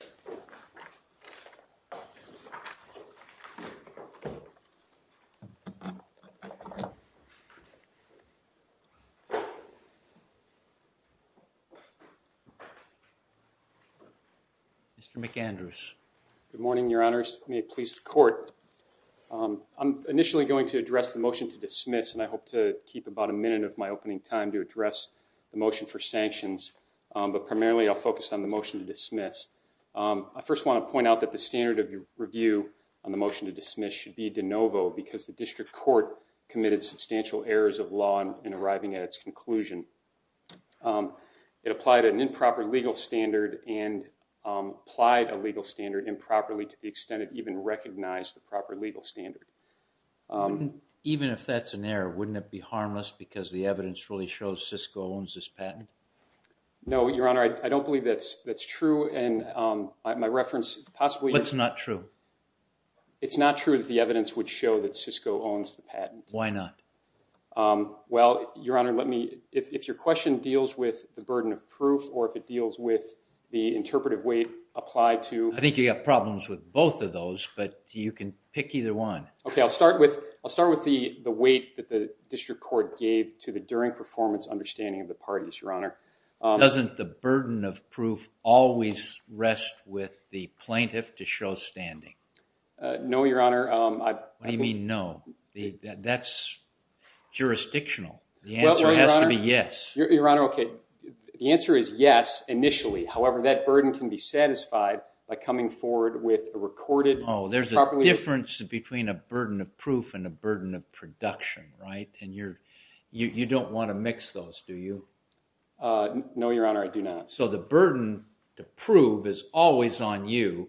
Mr. McAndrews, good morning your honors, may it please the court, I'm initially going to address the motion to dismiss and I hope to keep about a minute of my opening time to address the motion for sanctions, but primarily I'll focus on the motion to dismiss. I first want to point out that the standard of review on the motion to dismiss should be de novo because the district court committed substantial errors of law in arriving at its conclusion. It applied an improper legal standard and applied a legal standard improperly to the extent it even recognized the proper legal standard. Even if that's an error, wouldn't it be harmless because the evidence really shows CISCO owns this patent? No, your honor, I don't believe that's true, and my reference possibly is not true. It's not true that the evidence would show that CISCO owns the patent. Why not? Well, your honor, let me, if your question deals with the burden of proof or if it deals with the interpretive weight applied to I think you have problems with both of those, but you can pick either one. Okay, I'll start with the weight that the district court gave to the during performance understanding of the parties, your honor. Doesn't the burden of proof always rest with the plaintiff to show standing? No, your honor. What do you mean no? That's jurisdictional. The answer has to be yes. Your honor, okay, the answer is yes initially. However, that burden can be satisfied by coming forward with a recorded... Oh, there's a difference between a burden of proof and a burden of production, right, and you don't want to mix those, do you? No, your honor, I do not. So the burden to prove is always on you,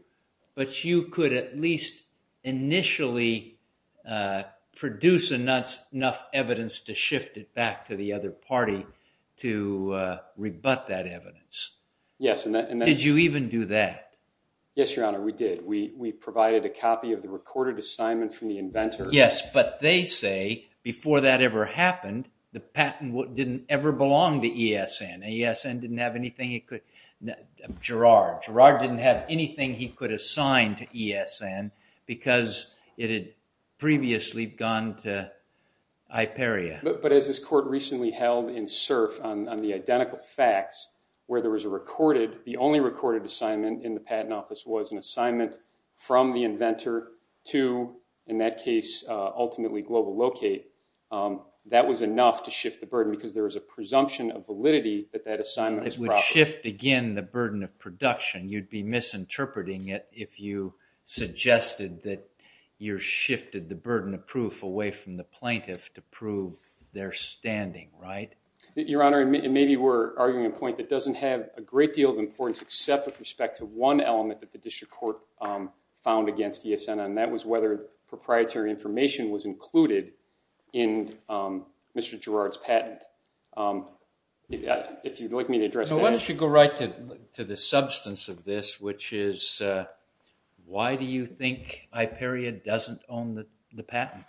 but you could at least initially produce enough evidence to shift it back to the other party to rebut that evidence. Yes. Did you even do that? Yes, your honor, we did. We provided a copy of the recorded assignment from the inventor. Yes, but they say before that ever happened, the patent didn't ever belong to ESN. ESN didn't have anything it could... Girard. Girard didn't have anything he could assign to ESN because it had previously gone to Hyperia. But as this court recently held in Cerf on the identical facts where there was a recorded, the only recorded assignment in the patent office was an assignment from the inventor to, in that case, ultimately Global Locate, that was enough to shift the burden because there was a presumption of validity that that assignment was proper. It would shift, again, the burden of production. You'd be misinterpreting it if you suggested that you shifted the burden of proof away from the plaintiff to prove their standing, right? Your honor, maybe we're arguing a point that doesn't have a great deal of importance except with respect to one element that the district court found against ESN, and that was whether proprietary information was included in Mr. Girard's patent. If you'd like me to address that- Why don't you go right to the substance of this, which is why do you think Hyperia doesn't own the patent?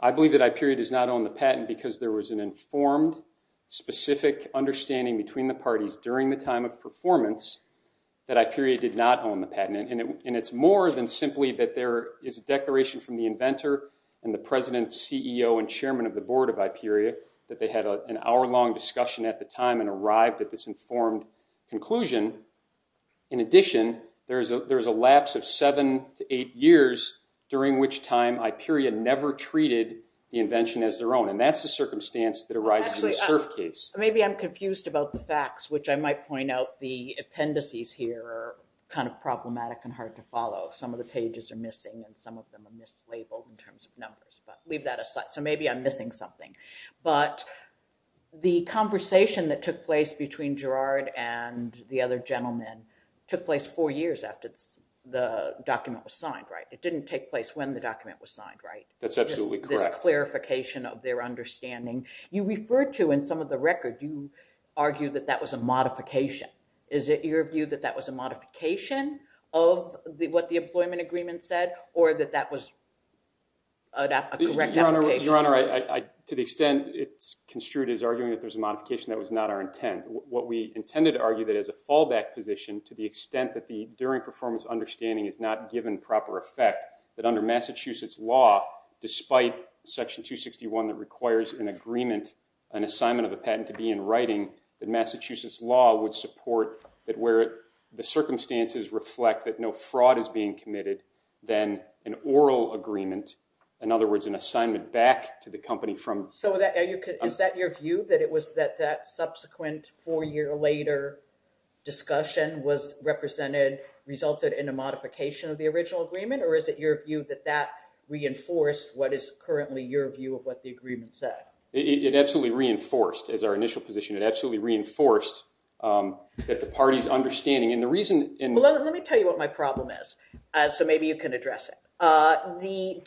I believe that Hyperia does not own the patent because there was an informed, specific understanding between the parties during the time of performance that Hyperia did not own the patent. And it's more than simply that there is a declaration from the inventor and the president, CEO and chairman of the board of Hyperia that they had an hour-long discussion at the time and arrived at this informed conclusion. In addition, there's a lapse of seven to eight years during which time Hyperia never treated the invention as their own. And that's the circumstance that arises in the Cerf case. Maybe I'm confused about the facts, which I might point out the appendices here are kind of problematic and hard to follow. Some of the pages are missing and some of them are mislabeled in terms of numbers, but leave that aside. So maybe I'm missing something. But the conversation that took place between Girard and the other gentlemen took place four years after the document was signed, right? It didn't take place when the document was signed, right? That's absolutely correct. This clarification of their understanding. You refer to in some of the record, you argue that that was a modification. Is it your view that that was a modification of what the employment agreement said or that that was a correct application? Your Honor, to the extent it's construed as arguing that there's a modification, that was not our intent. What we intended to argue that as a fallback position to the extent that the during performance understanding is not given proper effect, that under Massachusetts law, despite Section 261 that requires an agreement, an assignment of a patent to be in writing, that Massachusetts law would support that where the circumstances reflect that no fraud is being committed, then an oral agreement, in other words, an assignment back to the company from- So is that your view? That it was that that subsequent four year later discussion was represented, resulted in a modification of the original agreement, or is it your view that that reinforced what is currently your view of what the agreement said? It absolutely reinforced, as our initial position, it absolutely reinforced that the party's understanding and the reason- Well, let me tell you what my problem is, so maybe you can address it. Even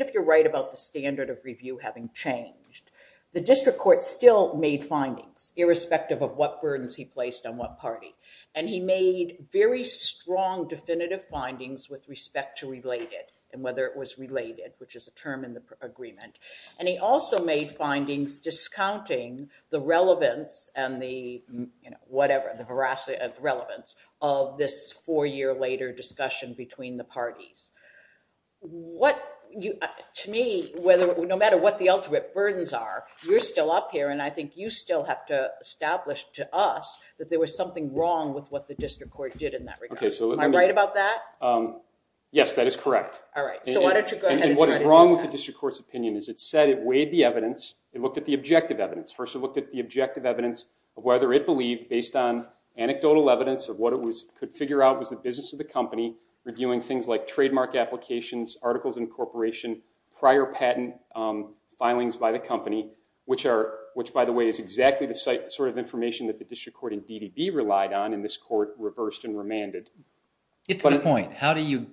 if you're right about the standard of review having changed, the district court still made findings irrespective of what burdens he placed on what party. And he made very strong definitive findings with respect to related and whether it was related, which is a term in the agreement. And he also made findings discounting the relevance and the, you know, whatever, the veracity of relevance of this four year later discussion between the parties. To me, no matter what the ultimate burdens are, you're still up here and I think you still have to establish to us that there was something wrong with what the district court did in that regard. Am I right about that? Yes, that is correct. All right, so why don't you go ahead and try to do that. And what is wrong with the district court's opinion is it said it weighed the evidence, it looked at the objective evidence. First, it looked at the objective evidence of whether it believed, based on anecdotal evidence of what it could figure out was the business of the company, reviewing things like trademark applications, articles incorporation, prior patent filings by the company, which are, which by the way is exactly the sort of information that the district court in DDB relied on and this court reversed and remanded. Get to the point. How do you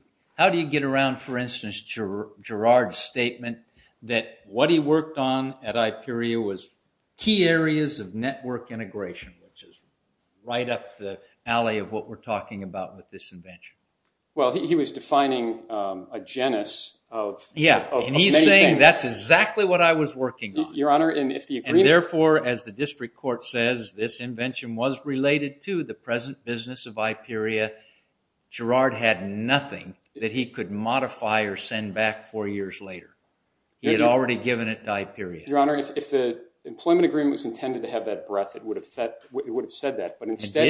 get around, for instance, Gerard's statement that what he worked on at IPERIA was key areas of network integration, which is right up the alley of what we're talking about with this invention. Well, he was defining a genus of many things. Yeah, and he's saying that's exactly what I was working on. Your Honor, and if the agreement- And therefore, as the district court says, this invention was related to the present business of IPERIA. Gerard had nothing that he could modify or send back four years later. He had already given it to IPERIA. Your Honor, if the employment agreement was intended to have that breadth, it would have said that, but instead-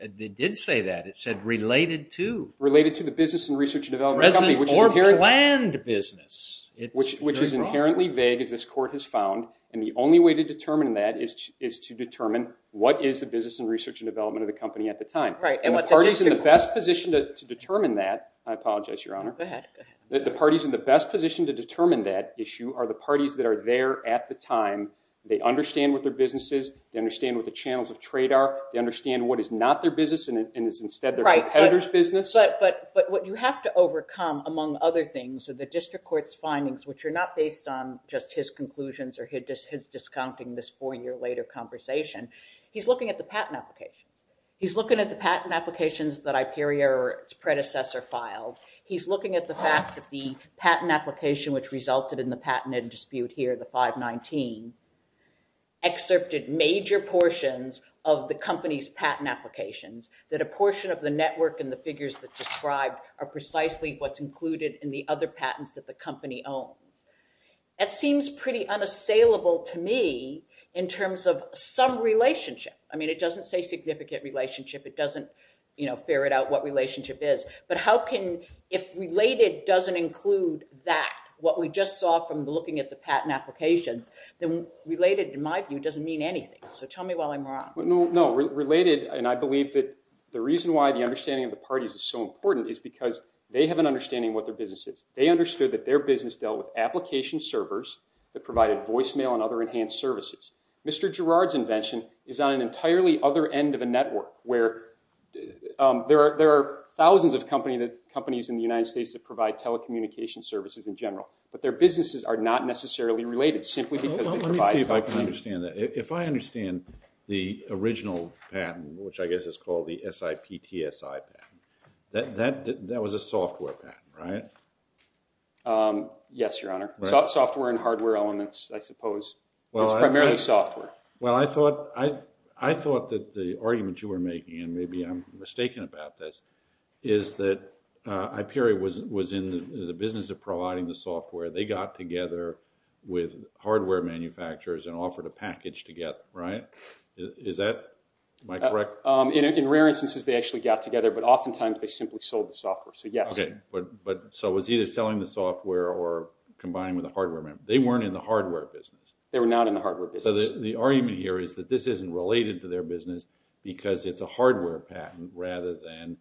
It did say that. It said related to- Related to the business and research and development of the company, which is inherently- Or planned business. Which is inherently vague, as this court has found, and the only way to determine that is to determine what is the business and research and development of the company at the time. Right, and what the district court- And the parties in the best position to determine that, I apologize, Your Honor. Go ahead. The parties in the best position to determine that issue are the parties that are there at the time, they understand what their business is, they understand what the channels of trade are, they understand what is not their business and is instead their competitor's business. But what you have to overcome, among other things, are the district court's findings, which are not based on just his conclusions or his discounting this four year later conversation. He's looking at the patent applications. He's looking at the patent applications that IPERIA or its predecessor filed. He's looking at the fact that the patent application which resulted in the patented dispute here, the 519, excerpted major portions of the company's patent applications, that a portion of the network and the figures that described are precisely what's included in the other patents that the company owns. That seems pretty unassailable to me in terms of some relationship. I mean it doesn't say significant relationship, it doesn't ferret out what relationship is, but how can, if related doesn't include that, what we just saw from looking at the patent applications, then related, in my view, doesn't mean anything. So tell me while I'm wrong. No, no. Related, and I believe that the reason why the understanding of the parties is so important is because they have an understanding of what their business is. They understood that their business dealt with application servers that provided voicemail and other enhanced services. Mr. Girard's invention is on an entirely other end of a network where there are thousands of companies in the United States that provide telecommunication services in general, but their businesses are not necessarily related simply because they provide them. Let me see if I can understand that. If I understand the original patent, which I guess is called the SIPTSI patent, that was a software patent, right? Yes, your honor. Software and hardware elements, I suppose. It's primarily software. Well I thought that the argument you were making, and maybe I'm mistaken about this, is that Hyperia was in the business of providing the software. They got together with hardware manufacturers and offered a package to get them, right? Is that correct? In rare instances, they actually got together, but oftentimes they simply sold the software. So yes. Okay. So it was either selling the software or combining with a hardware member. They weren't in the hardware business. They were not in the hardware business. The argument here is that this isn't related to their business because it's a hardware patent rather than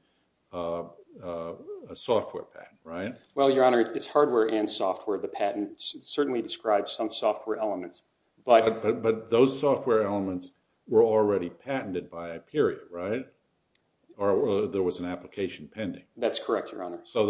a software patent, right? Well, your honor, it's hardware and software. The patent certainly describes some software elements. But those software elements were already patented by Hyperia, right? Or there was an application pending. That's correct, your honor. So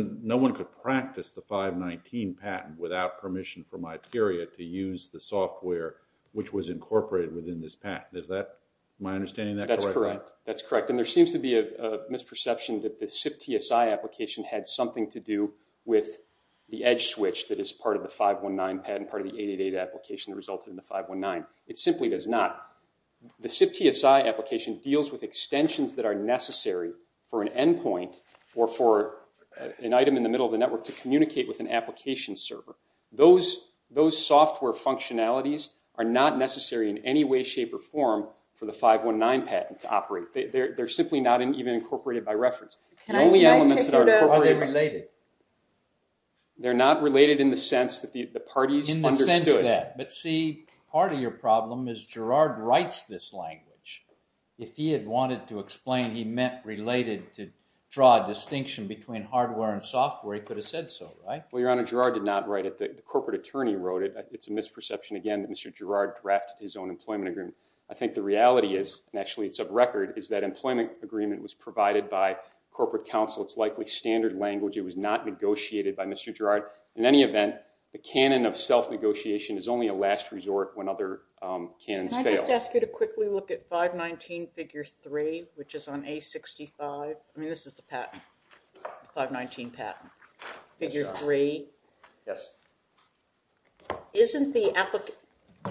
no one could practice the 519 patent without permission from Hyperia to use the software which was incorporated within this patent. Is that my understanding of that correctly? That's correct. And there seems to be a misperception that the SIP TSI application had something to do with the edge switch that is part of the 519 patent, part of the 888 application that resulted in the 519. It simply does not. The SIP TSI application deals with extensions that are necessary for an endpoint or for an item in the middle of the network to communicate with an application server. Those software functionalities are not necessary in any way, shape, or form for the 519 patent to operate. They're simply not even incorporated by reference. Can I take it up? The only elements that are incorporated... How are they related? They're not related in the sense that the parties understood. In the sense that. But see, part of your problem is Gerard writes this language. If he had wanted to explain he meant related to draw a distinction between hardware and software, he could have said so, right? Well, your honor, Gerard did not write it. The corporate attorney wrote it. It's a misperception again that Mr. Gerard drafted his own employment agreement. I think the reality is, and actually it's a record, is that employment agreement was provided by corporate counsel. It's likely standard language. It was not negotiated by Mr. Gerard. In any event, the canon of self-negotiation is only a last resort when other canons fail. Can I just ask you to quickly look at 519 figure 3, which is on A65? I mean, this is the patent, the 519 patent, figure 3. Yes.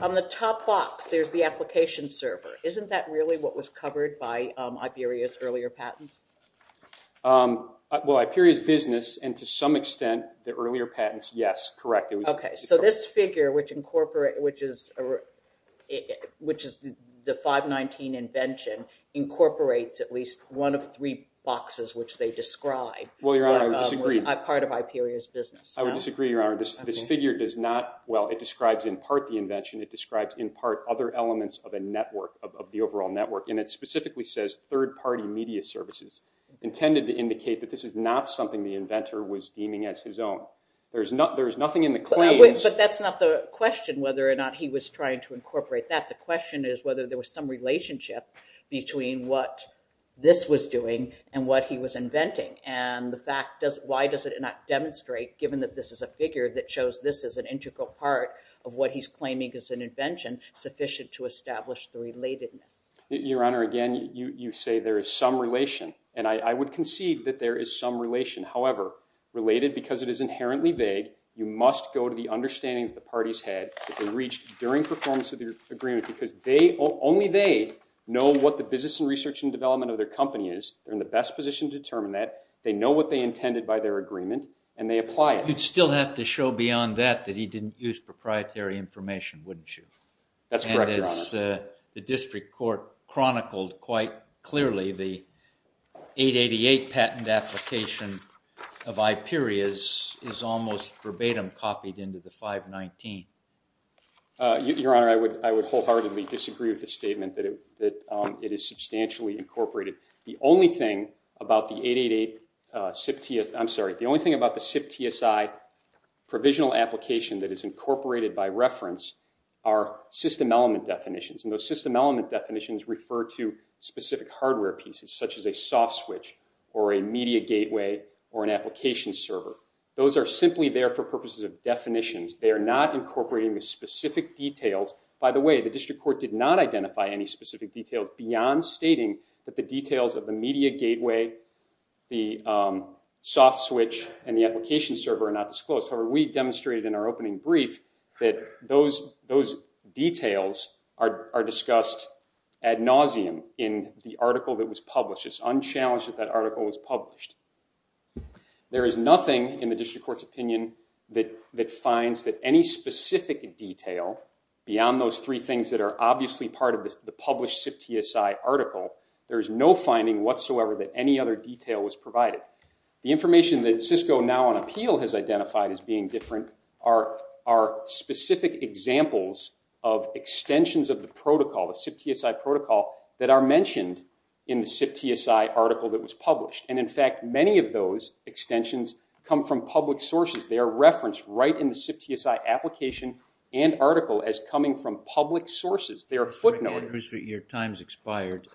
On the top box, there's the application server. Isn't that really what was covered by Iberia's earlier patents? Well, Iberia's business, and to some extent, the earlier patents, yes, correct. So this figure, which is the 519 invention, incorporates at least one of three boxes which they describe. Well, your honor, I would disagree. As part of Iberia's business. I would disagree, your honor. This figure does not, well, it describes in part the invention. It describes in part other elements of a network, of the overall network, and it specifically says third-party media services, intended to indicate that this is not something the inventor was deeming as his own. There's nothing in the claims. But that's not the question, whether or not he was trying to incorporate that. The question is whether there was some relationship between what this was doing and what he was inventing. And the fact, why does it not demonstrate, given that this is a figure that shows this is an integral part of what he's claiming is an invention, sufficient to establish the relatedness? Your honor, again, you say there is some relation. And I would concede that there is some relation. However, related, because it is inherently vague, you must go to the understanding that the parties had that they reached during performance of the agreement, because they, only they, know what the business and research and development of their company is. They're in the best position to determine that. They know what they intended by their agreement. And they apply it. You'd still have to show beyond that that he didn't use proprietary information, wouldn't you? That's correct, your honor. And as the district court chronicled quite clearly, the 888 patent application of IPERIA's is almost verbatim copied into the 519. Your honor, I would wholeheartedly disagree with the statement that it is substantially incorporated. The only thing about the 888 SIP, I'm sorry, the only thing about the SIP TSI provisional application that is incorporated by reference are system element definitions. And those system element definitions refer to specific hardware pieces, such as a soft switch or a media gateway or an application server. Those are simply there for purposes of definitions. They are not incorporating the specific details. By the way, the district court did not identify any specific details beyond stating that the details of the media gateway, the soft switch, and the application server are not disclosed. However, we demonstrated in our opening brief that those details are discussed ad nauseum in the article that was published. It's unchallenged that that article was published. There is nothing in the district court's opinion that finds that any specific detail beyond those three things that are obviously part of the published SIP TSI article, there is no finding whatsoever that any other detail was provided. The information that Cisco now on appeal has identified as being different are specific examples of extensions of the protocol, the SIP TSI protocol, that are mentioned in the SIP TSI article that was published. And in fact, many of those extensions come from public sources. They are referenced right in the SIP TSI application and article as coming from public sources. Your time has expired.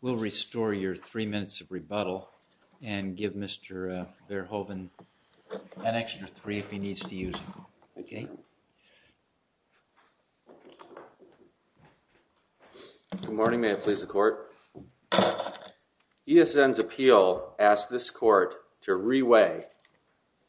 We'll restore your three minutes of rebuttal and give Mr. Verhoeven an extra three if he needs to use it. Okay? Good morning. May it please the court. ESN's appeal asked this court to re-weigh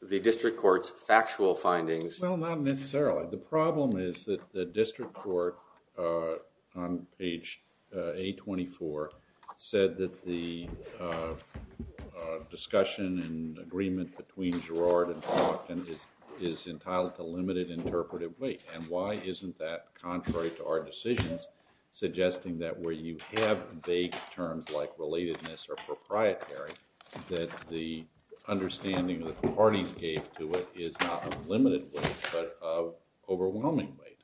the district court's factual findings. Well, not necessarily. The problem is that the district court on page 824 said that the discussion and agreement between Girard and Hawthorne is entitled to limited interpretive weight. And why isn't that contrary to our decisions suggesting that where you have vague terms like relatedness or proprietary, that the understanding that the parties gave to it is not of limited weight, but of overwhelming weight?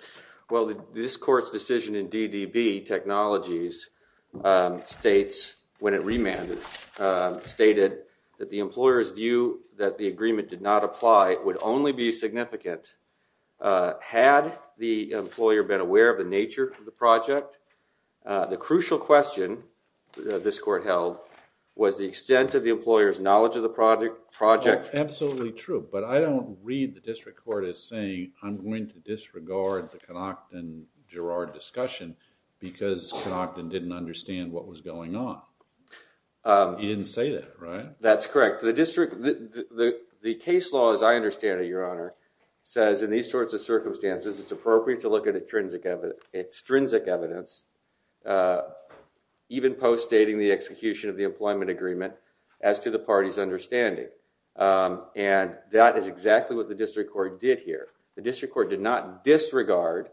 Well, this court's decision in DDB Technologies states, when it remanded, stated that the employer's view that the agreement did not apply would only be significant had the employer been aware of the nature of the project. The crucial question this court held was the extent of the employer's knowledge of the project. Well, that's absolutely true. But I don't read the district court as saying, I'm going to disregard the Conoctin-Girard discussion because Conoctin didn't understand what was going on. He didn't say that, right? That's correct. The district, the case law as I understand it, Your Honor, says in these sorts of circumstances it's appropriate to look at extrinsic evidence, even post-dating the execution of the employment agreement, as to the party's understanding. And that is exactly what the district court did here. The district court did not disregard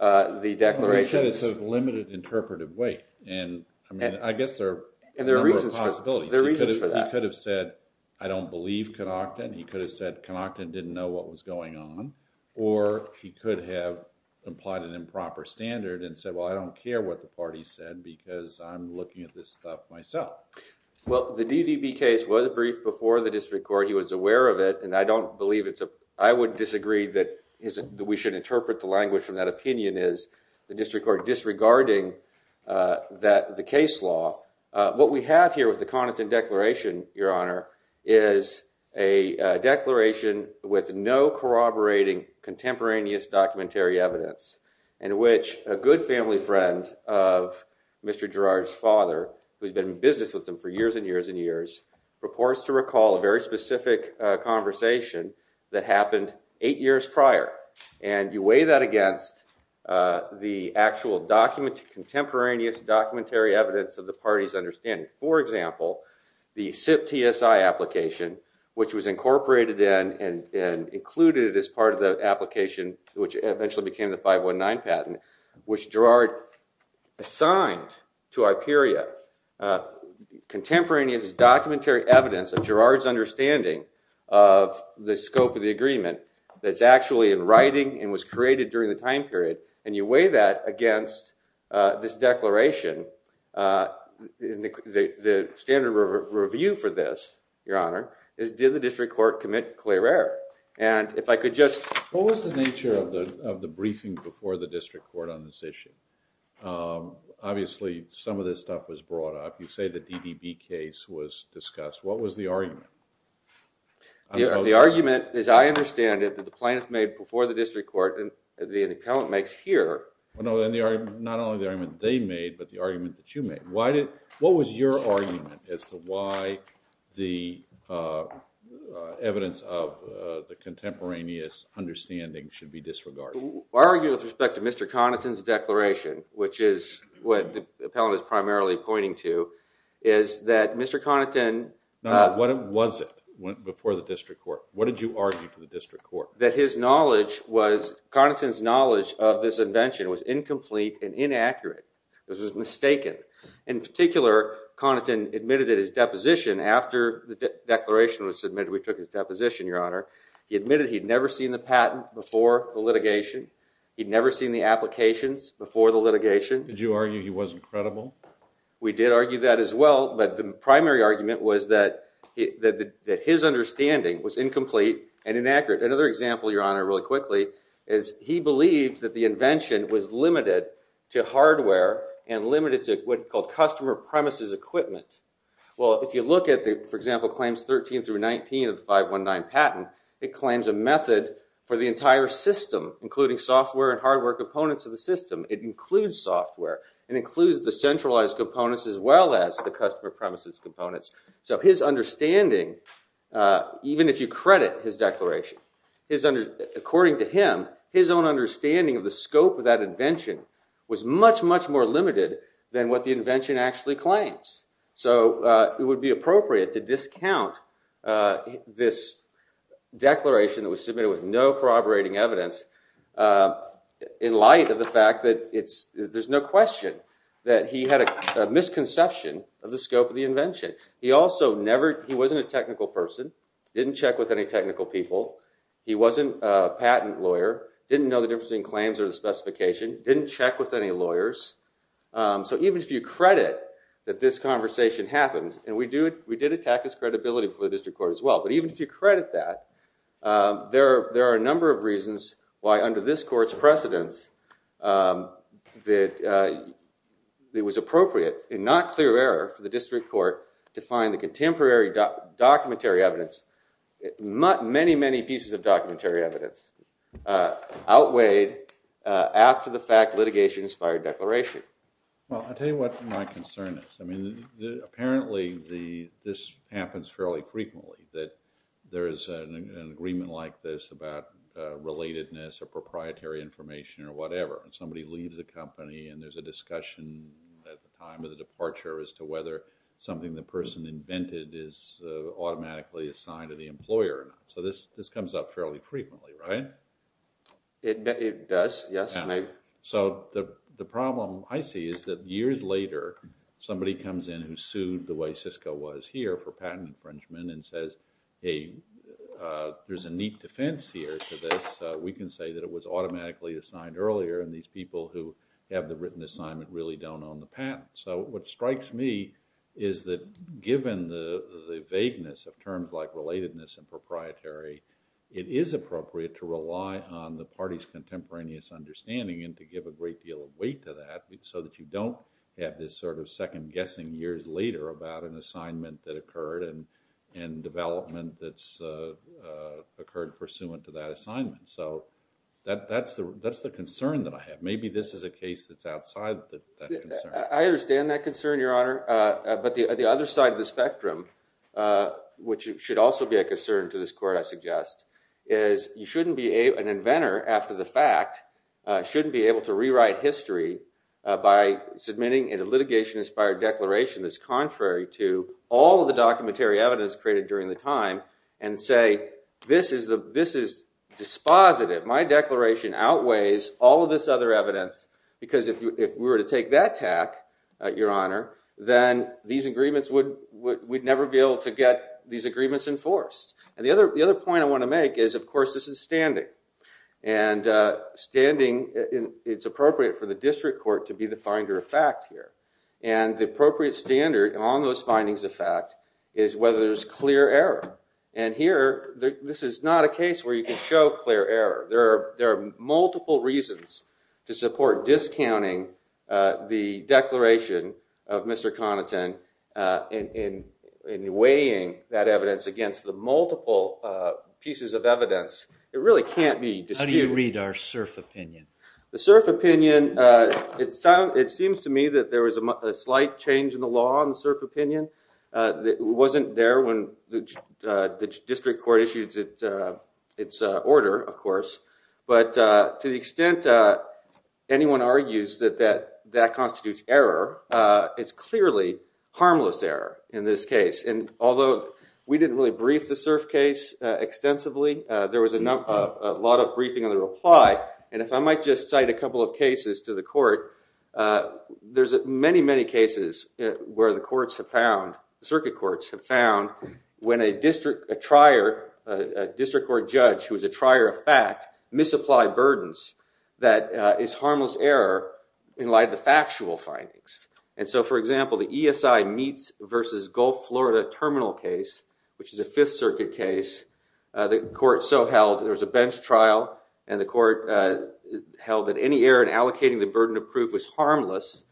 the declarations. Well, you said it's of limited interpretive weight, and I mean, I guess there are a number of possibilities. And there are reasons for that. There are reasons for that. He could have said, I don't believe Conoctin. He could have said, Conoctin didn't know what was going on. Or he could have implied an improper standard and said, well, I don't care what the party said because I'm looking at this stuff myself. Well, the DVB case was briefed before the district court. He was aware of it. And I don't believe it's a, I would disagree that we should interpret the language from that opinion as the district court disregarding the case law. What we have here with the Conoctin declaration, Your Honor, is a declaration with no corroborating contemporaneous documentary evidence, in which a good family friend of Mr. Girard's father, who has been in business with him for years and years and years, purports to recall a very specific conversation that happened eight years prior. And you weigh that against the actual document, contemporaneous documentary evidence of the party's understanding. For example, the SIP TSI application, which was incorporated in and included as part of the application, which eventually became the 519 patent, which Girard assigned to Iperia, contemporaneous documentary evidence of Girard's understanding of the scope of the agreement that's actually in writing and was created during the time period. And you weigh that against this declaration. The standard review for this, Your Honor, is did the district court commit clear error? And if I could just... What was the nature of the briefing before the district court on this issue? Obviously, some of this stuff was brought up. You say the DDB case was discussed. What was the argument? The argument, as I understand it, that the plaintiff made before the district court and the appellant makes here... Well, no, not only the argument they made, but the argument that you made. What was your argument as to why the evidence of the contemporaneous understanding should be disregarded? Well, I argue with respect to Mr. Connaughton's declaration, which is what the appellant is primarily pointing to, is that Mr. Connaughton... No, what was it before the district court? What did you argue to the district court? That his knowledge was... Connaughton's knowledge of this invention was incomplete and inaccurate. This was mistaken. In particular, Connaughton admitted at his deposition, after the declaration was submitted, we took his deposition, Your Honor, he admitted he'd never seen the patent before the litigation. He'd never seen the applications before the litigation. Did you argue he wasn't credible? We did argue that as well, but the primary argument was that his understanding was incomplete and inaccurate. Another example, Your Honor, really quickly, is he believed that the invention was limited to hardware and limited to what's called customer premises equipment. Well, if you look at the, for example, claims 13 through 19 of the 519 patent, it claims a method for the entire system, including software and hardware components of the system. It includes software, it includes the centralized components as well as the customer premises components. His understanding, even if you credit his declaration, according to him, his own understanding of the scope of that invention was much, much more limited than what the invention actually claims. It would be appropriate to discount this declaration that was submitted with no corroborating evidence in light of the fact that there's no question that he had a misconception of the scope of He also never, he wasn't a technical person, didn't check with any technical people. He wasn't a patent lawyer, didn't know the difference between claims or the specification, didn't check with any lawyers. So even if you credit that this conversation happened, and we did attack his credibility before the district court as well, but even if you credit that, there are a number of reasons why under this court's precedence that it was appropriate and not clear of error for the district court to find the contemporary documentary evidence, many, many pieces of documentary evidence outweighed after the fact litigation inspired declaration. Well, I'll tell you what my concern is. I mean, apparently this happens fairly frequently, that there is an agreement like this about relatedness or proprietary information or whatever, and somebody leaves the company and there's a discussion at the time of the departure as to whether something the person invented is automatically assigned to the employer or not. So this comes up fairly frequently, right? It does, yes. So the problem I see is that years later, somebody comes in who sued the way Cisco was here for patent infringement and says, hey, there's a neat defense here to this. We can say that it was automatically assigned earlier, and these people who have the written assignment really don't own the patent. So what strikes me is that given the vagueness of terms like relatedness and proprietary, it is appropriate to rely on the party's contemporaneous understanding and to give a great deal of weight to that so that you don't have this sort of second-guessing years later about an assignment that occurred and development that's occurred pursuant to that assignment. So that's the concern that I have. Maybe this is a case that's outside that concern. I understand that concern, Your Honor, but the other side of the spectrum, which should also be a concern to this Court, I suggest, is you shouldn't be an inventor after the fact, shouldn't be able to rewrite history by submitting a litigation-inspired declaration that's contrary to all of the documentary evidence created during the time and say, this is dispositive. My declaration outweighs all of this other evidence because if we were to take that tack, Your Honor, then we'd never be able to get these agreements enforced. And the other point I want to make is, of course, this is standing. And standing, it's appropriate for the district court to be the finder of fact here. And the appropriate standard on those findings of fact is whether there's clear error. And here, this is not a case where you can show clear error. There are multiple reasons to support discounting the declaration of Mr. Conanton in weighing that evidence against the multiple pieces of evidence. It really can't be disputed. How do you read our cert opinion? The cert opinion, it seems to me that there was a slight change in the law on the cert opinion. It wasn't there when the district court issued its order, of course. But to the extent anyone argues that that constitutes error, it's clearly harmless error in this case. And although we didn't really brief the cert case extensively, there was a lot of briefing in the reply. And if I might just cite a couple of cases to the court, there's many, many cases where the circuit courts have found when a district court judge who is a trier of fact misapplied burdens that is harmless error in light of the factual findings. And so, for example, the ESI Meats versus Gulf Florida Terminal case, which is a Fifth Circuit case, the court so held there was a bench trial. And the court held that any error in allocating the burden of proof was harmless,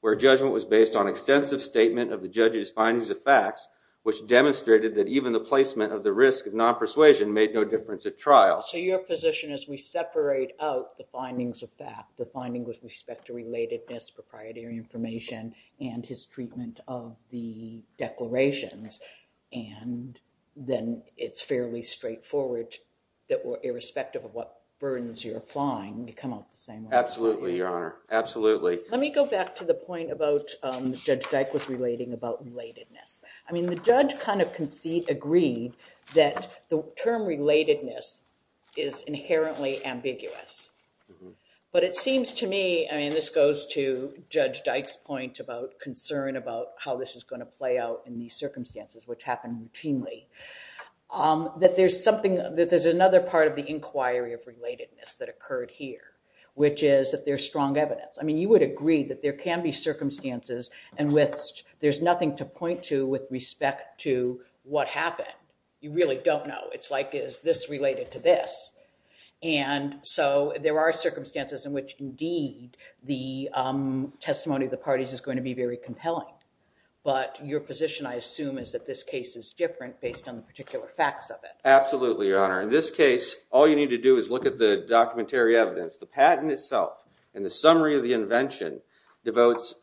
where judgment was based on extensive statement of the judge's findings of facts, which demonstrated that even the placement of the risk of non-persuasion made no difference at trial. So your position is we separate out the findings of fact, the finding with respect to relatedness, proprietary information, and his treatment of the declarations. And then it's fairly straightforward that irrespective of what burdens you're applying, you come out the same way. Absolutely, Your Honor. Absolutely. Let me go back to the point about Judge Dyke was relating about relatedness. I mean, the judge kind of agreed that the term relatedness is inherently ambiguous. But it seems to me, I mean, this goes to Judge Dyke's point about concern about how this is going to play out in these circumstances, which happen routinely, that there's another part of the inquiry of relatedness that occurred here, which is that there's strong evidence. I mean, you would agree that there can be circumstances in which there's nothing to point to with respect to what happened. You really don't know. It's like, is this related to this? And so there are circumstances in which, indeed, the testimony of the parties is going to be very compelling. But your position, I assume, is that this case is different based on the particular facts of it. Absolutely, Your Honor. In this case, all you need to do is look at the documentary evidence. The patent itself and the summary of the invention devotes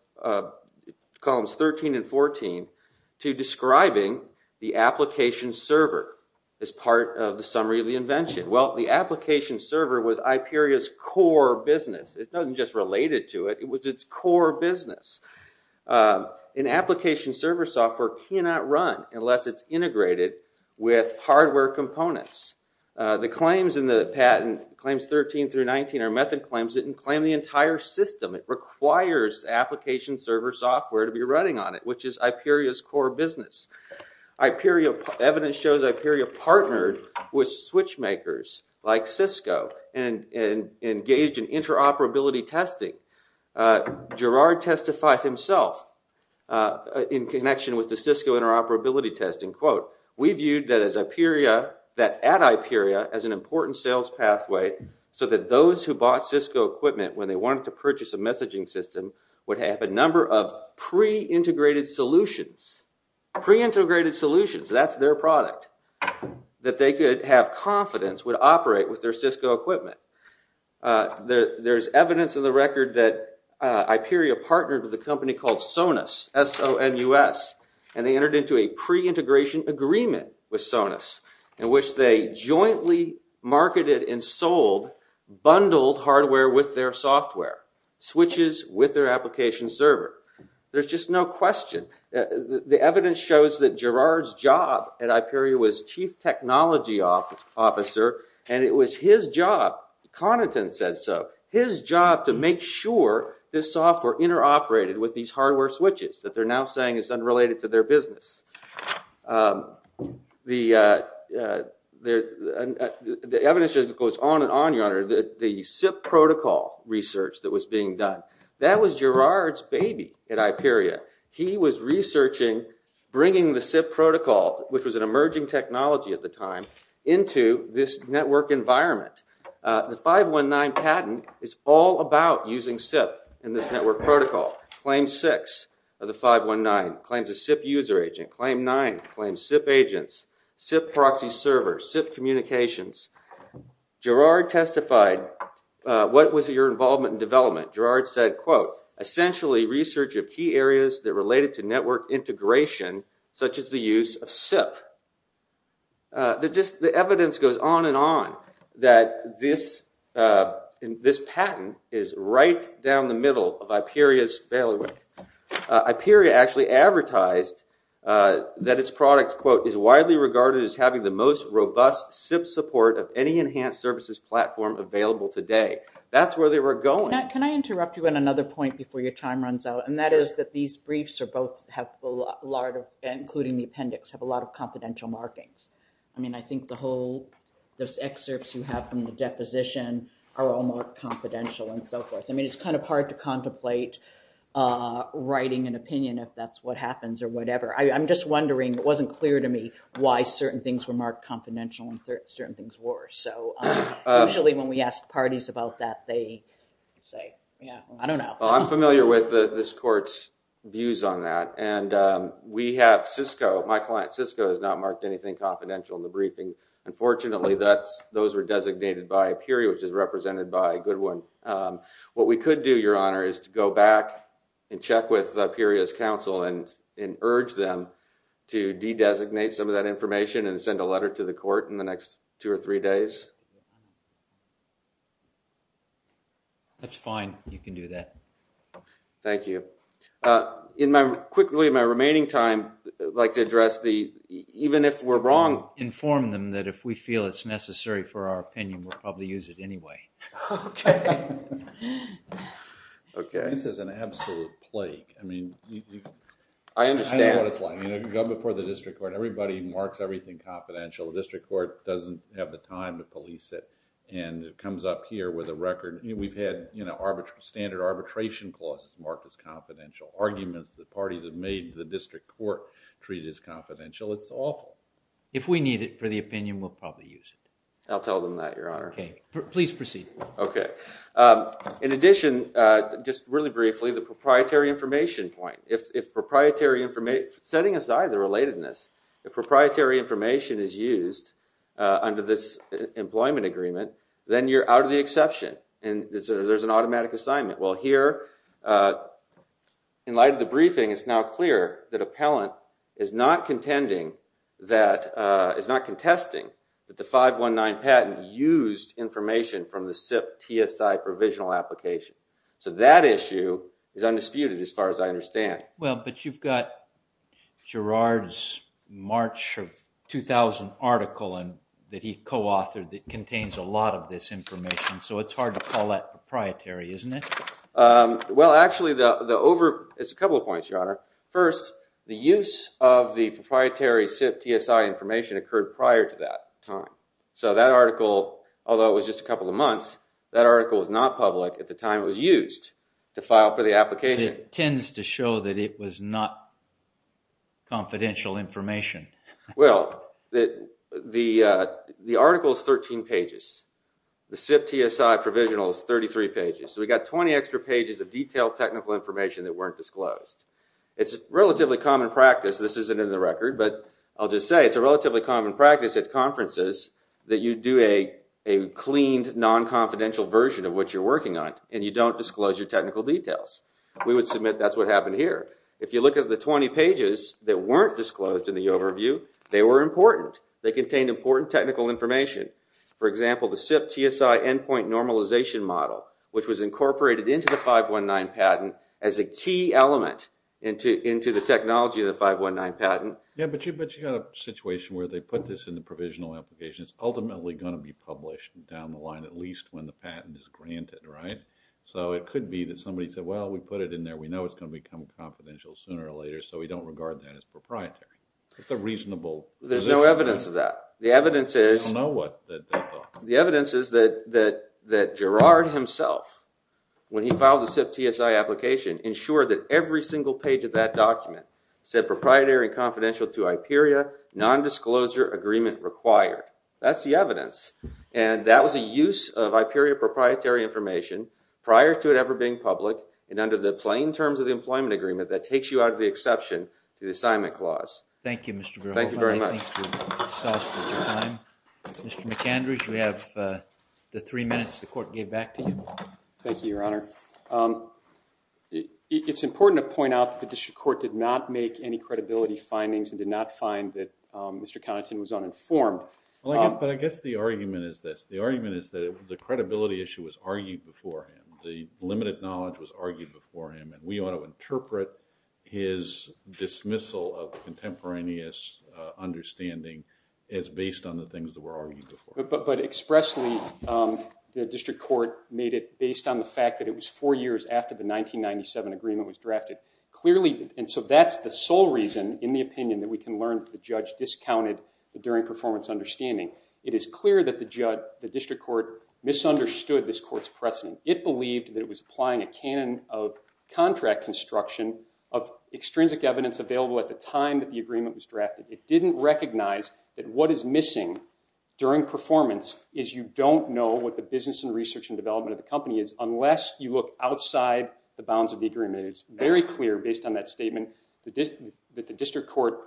columns 13 and 14 to describing the application server as part of the summary of the invention. Well, the application server was IPERIA's core business. It wasn't just related to it. It was its core business. An application server software cannot run unless it's integrated with hardware components. The claims in the patent, claims 13 through 19 are method claims that didn't claim the entire system. It requires application server software to be running on it, which is IPERIA's core business. Evidence shows IPERIA partnered with switch makers like Cisco and engaged in interoperability testing. Gerard testified himself in connection with the Cisco interoperability testing, quote, we viewed that at IPERIA as an important sales pathway so that those who bought Cisco equipment when they wanted to purchase a messaging system would have a number of pre-integrated solutions. Pre-integrated solutions, that's their product, that they could have confidence would operate with their Cisco equipment. There's evidence in the record that IPERIA partnered with a company called Sonus, S-O-N-U-S, and they entered into a pre-integration agreement with Sonus in which they jointly marketed and sold bundled hardware with their software, switches with their application server. There's just no question. The evidence shows that Gerard's job at IPERIA was chief technology officer, and it was his job, Connaughton said so, his job to make sure this software interoperated with these hardware switches that they're now saying is unrelated to their business. The evidence just goes on and on, your honor. The SIP protocol research that was being done, that was Gerard's baby at IPERIA. He was researching bringing the SIP protocol, which was an emerging technology at the time, into this network environment. The 519 patent is all about using SIP in this network protocol. Claim 6 of the 519 claims a SIP user agent. Claim 9 claims SIP agents, SIP proxy servers, SIP communications. Gerard testified, what was your involvement in development? Gerard said, quote, essentially research of key areas that related to network integration, such as the use of SIP. The evidence goes on and on that this patent is right down the middle of IPERIA's failure. IPERIA actually advertised that its product, quote, is widely regarded as having the most robust SIP support of any enhanced services platform available today. That's where they were going. Can I interrupt you on another point before your time runs out? And that is that these briefs, including the appendix, have a lot of confidential markings. I mean, I think those excerpts you have from the deposition are all marked confidential and so forth. I mean, it's kind of hard to contemplate writing an opinion if that's what happens or whatever. I'm just wondering, it wasn't clear to me why certain things were marked confidential and certain things were. So usually when we ask parties about that, they say, yeah, I don't know. Well, I'm familiar with this court's views on that. And we have Cisco. My client, Cisco, has not marked anything confidential in the briefing. Unfortunately, those were designated by IPERIA, which is represented by Goodwin. What we could do, Your Honor, is to go back and check with IPERIA's counsel and urge them to de-designate some of that information and send a letter to the court in the next two or three days. That's fine. You can do that. Thank you. Quickly, in my remaining time, I'd like to address the, even if we're wrong, inform them that if we feel it's necessary for our opinion, we'll probably use it anyway. Okay. Okay. This is an absolute plague. I mean, I understand what it's like. You know, you go before the district court. Everybody marks everything confidential. The district court doesn't have the time to put it on paper. And it comes up here with a record. We've had standard arbitration clauses marked as confidential. Arguments that parties have made to the district court treated as confidential. It's awful. If we need it for the opinion, we'll probably use it. I'll tell them that, Your Honor. Please proceed. Okay. In addition, just really briefly, the proprietary information point. If proprietary information, setting aside the relatedness, if proprietary information is used under this employment agreement, then you're out of the exception. And there's an automatic assignment. Well, here, in light of the briefing, it's now clear that appellant is not contending that, is not contesting that the 519 patent used information from the SIP TSI provisional application. So that issue is undisputed, as far as I understand. Well, but you've got Gerard's March of 2000 article that he co-authored that contains a lot of this information. So it's hard to call that proprietary, isn't it? Well, actually, it's a couple of points, Your Honor. First, the use of the proprietary SIP TSI information occurred prior to that time. So that article, although it was just a couple of months, that article was not public at the time it was used to file for the application. It tends to show that it was not confidential information. Well, the article is 13 pages. The SIP TSI provisional is 33 pages. So we've got 20 extra pages of detailed technical information that weren't disclosed. It's a relatively common practice. This isn't in the record, but I'll just say it's a relatively common practice at conferences that you do a cleaned, non-confidential version of what you're working on, and you don't disclose your technical details. We would submit that's what happened here. If you look at the 20 pages that weren't disclosed in the overview, they were important. They contained important technical information. For example, the SIP TSI endpoint normalization model, which was incorporated into the 519 patent as a key element into the technology of the 519 patent. Yeah, but you've got a situation where they put this in the provisional application. It's ultimately going to be published down the line at least when the patent is granted, right? So it could be that somebody said, well, we put it in there. We know it's going to become confidential sooner or later, so we don't regard that as proprietary. That's a reasonable position. There's no evidence of that. The evidence is that Gerard himself, when he filed the SIP TSI application, ensured that every single page of that document said, to IPERIA, non-disclosure agreement required. That's the evidence. And that was a use of IPERIA proprietary information prior to it ever being public and under the plain terms of the employment agreement that takes you out of the exception to the assignment clause. Thank you, Mr. Grohl. Thank you very much. Mr. McAndrews, we have the three minutes the court gave back to you. Thank you, Your Honor. It's important to point out that the district court did not make any credibility findings and did not find that Mr. Connaughton was uninformed. But I guess the argument is this. The argument is that the credibility issue was argued before him. The limited knowledge was argued before him, and we ought to interpret his dismissal of contemporaneous understanding as based on the things that were argued before. But expressly, the district court made it based on the fact that it was four years after the 1997 agreement was drafted. Clearly, and so that's the sole reason, in the opinion that we can learn, that the judge discounted the during performance understanding. It is clear that the district court misunderstood this court's precedent. It believed that it was applying a canon of contract construction of extrinsic evidence available at the time that the agreement was drafted. It didn't recognize that what is missing during performance is you don't know what the business and research and development of the company is unless you look outside the bounds of the agreement. It's very clear, based on that statement, that the district court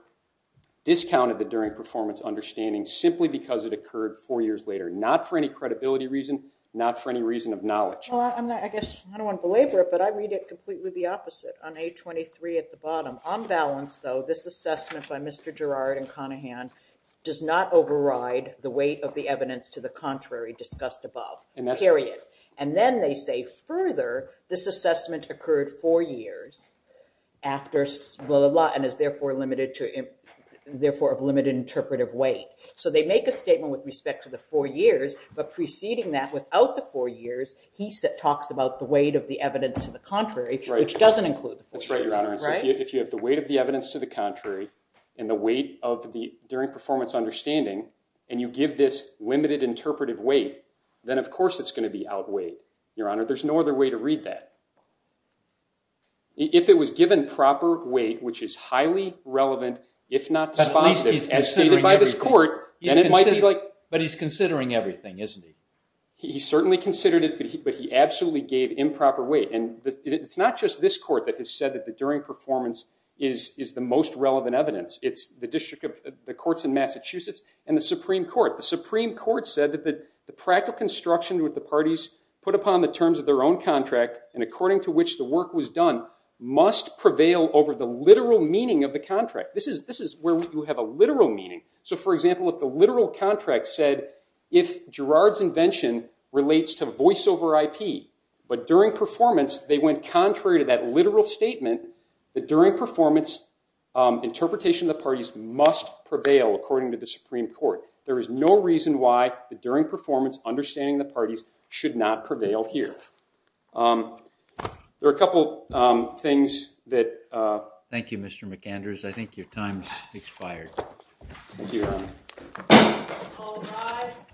discounted the during performance understanding simply because it occurred four years later, not for any credibility reason, not for any reason of knowledge. Well, I guess I don't want to belabor it, but I read it completely the opposite on A23 at the bottom. On balance, though, this assessment by Mr. Girard and Conahan does not override the weight of the evidence to the contrary discussed above. Period. And then they say, further, this assessment occurred four years after blah, blah, blah, and is therefore of limited interpretive weight. So they make a statement with respect to the four years, but preceding that, without the four years, he talks about the weight of the evidence to the contrary, which doesn't include the four years. That's right, Your Honor. If you have the weight of the evidence to the contrary and the weight of the during performance understanding and you give this limited interpretive weight, then, of course, it's going to be outweighed. Your Honor, there's no other way to read that. If it was given proper weight, which is highly relevant, if not dispositive, as stated by this court, then it might be like – But he's considering everything, isn't he? He certainly considered it, but he absolutely gave improper weight. And it's not just this court that has said that the during performance is the most relevant evidence. It's the courts in Massachusetts and the Supreme Court. The Supreme Court said that the practical construction with the parties put upon the terms of their own contract and according to which the work was done must prevail over the literal meaning of the contract. This is where you have a literal meaning. So, for example, if the literal contract said, if Gerard's invention relates to voiceover IP, but during performance they went contrary to that literal statement, the during performance interpretation of the parties must prevail according to the Supreme Court. There is no reason why the during performance understanding of the parties should not prevail here. There are a couple things that – Thank you, Mr. McAndrews. Thank you, Your Honor. All rise.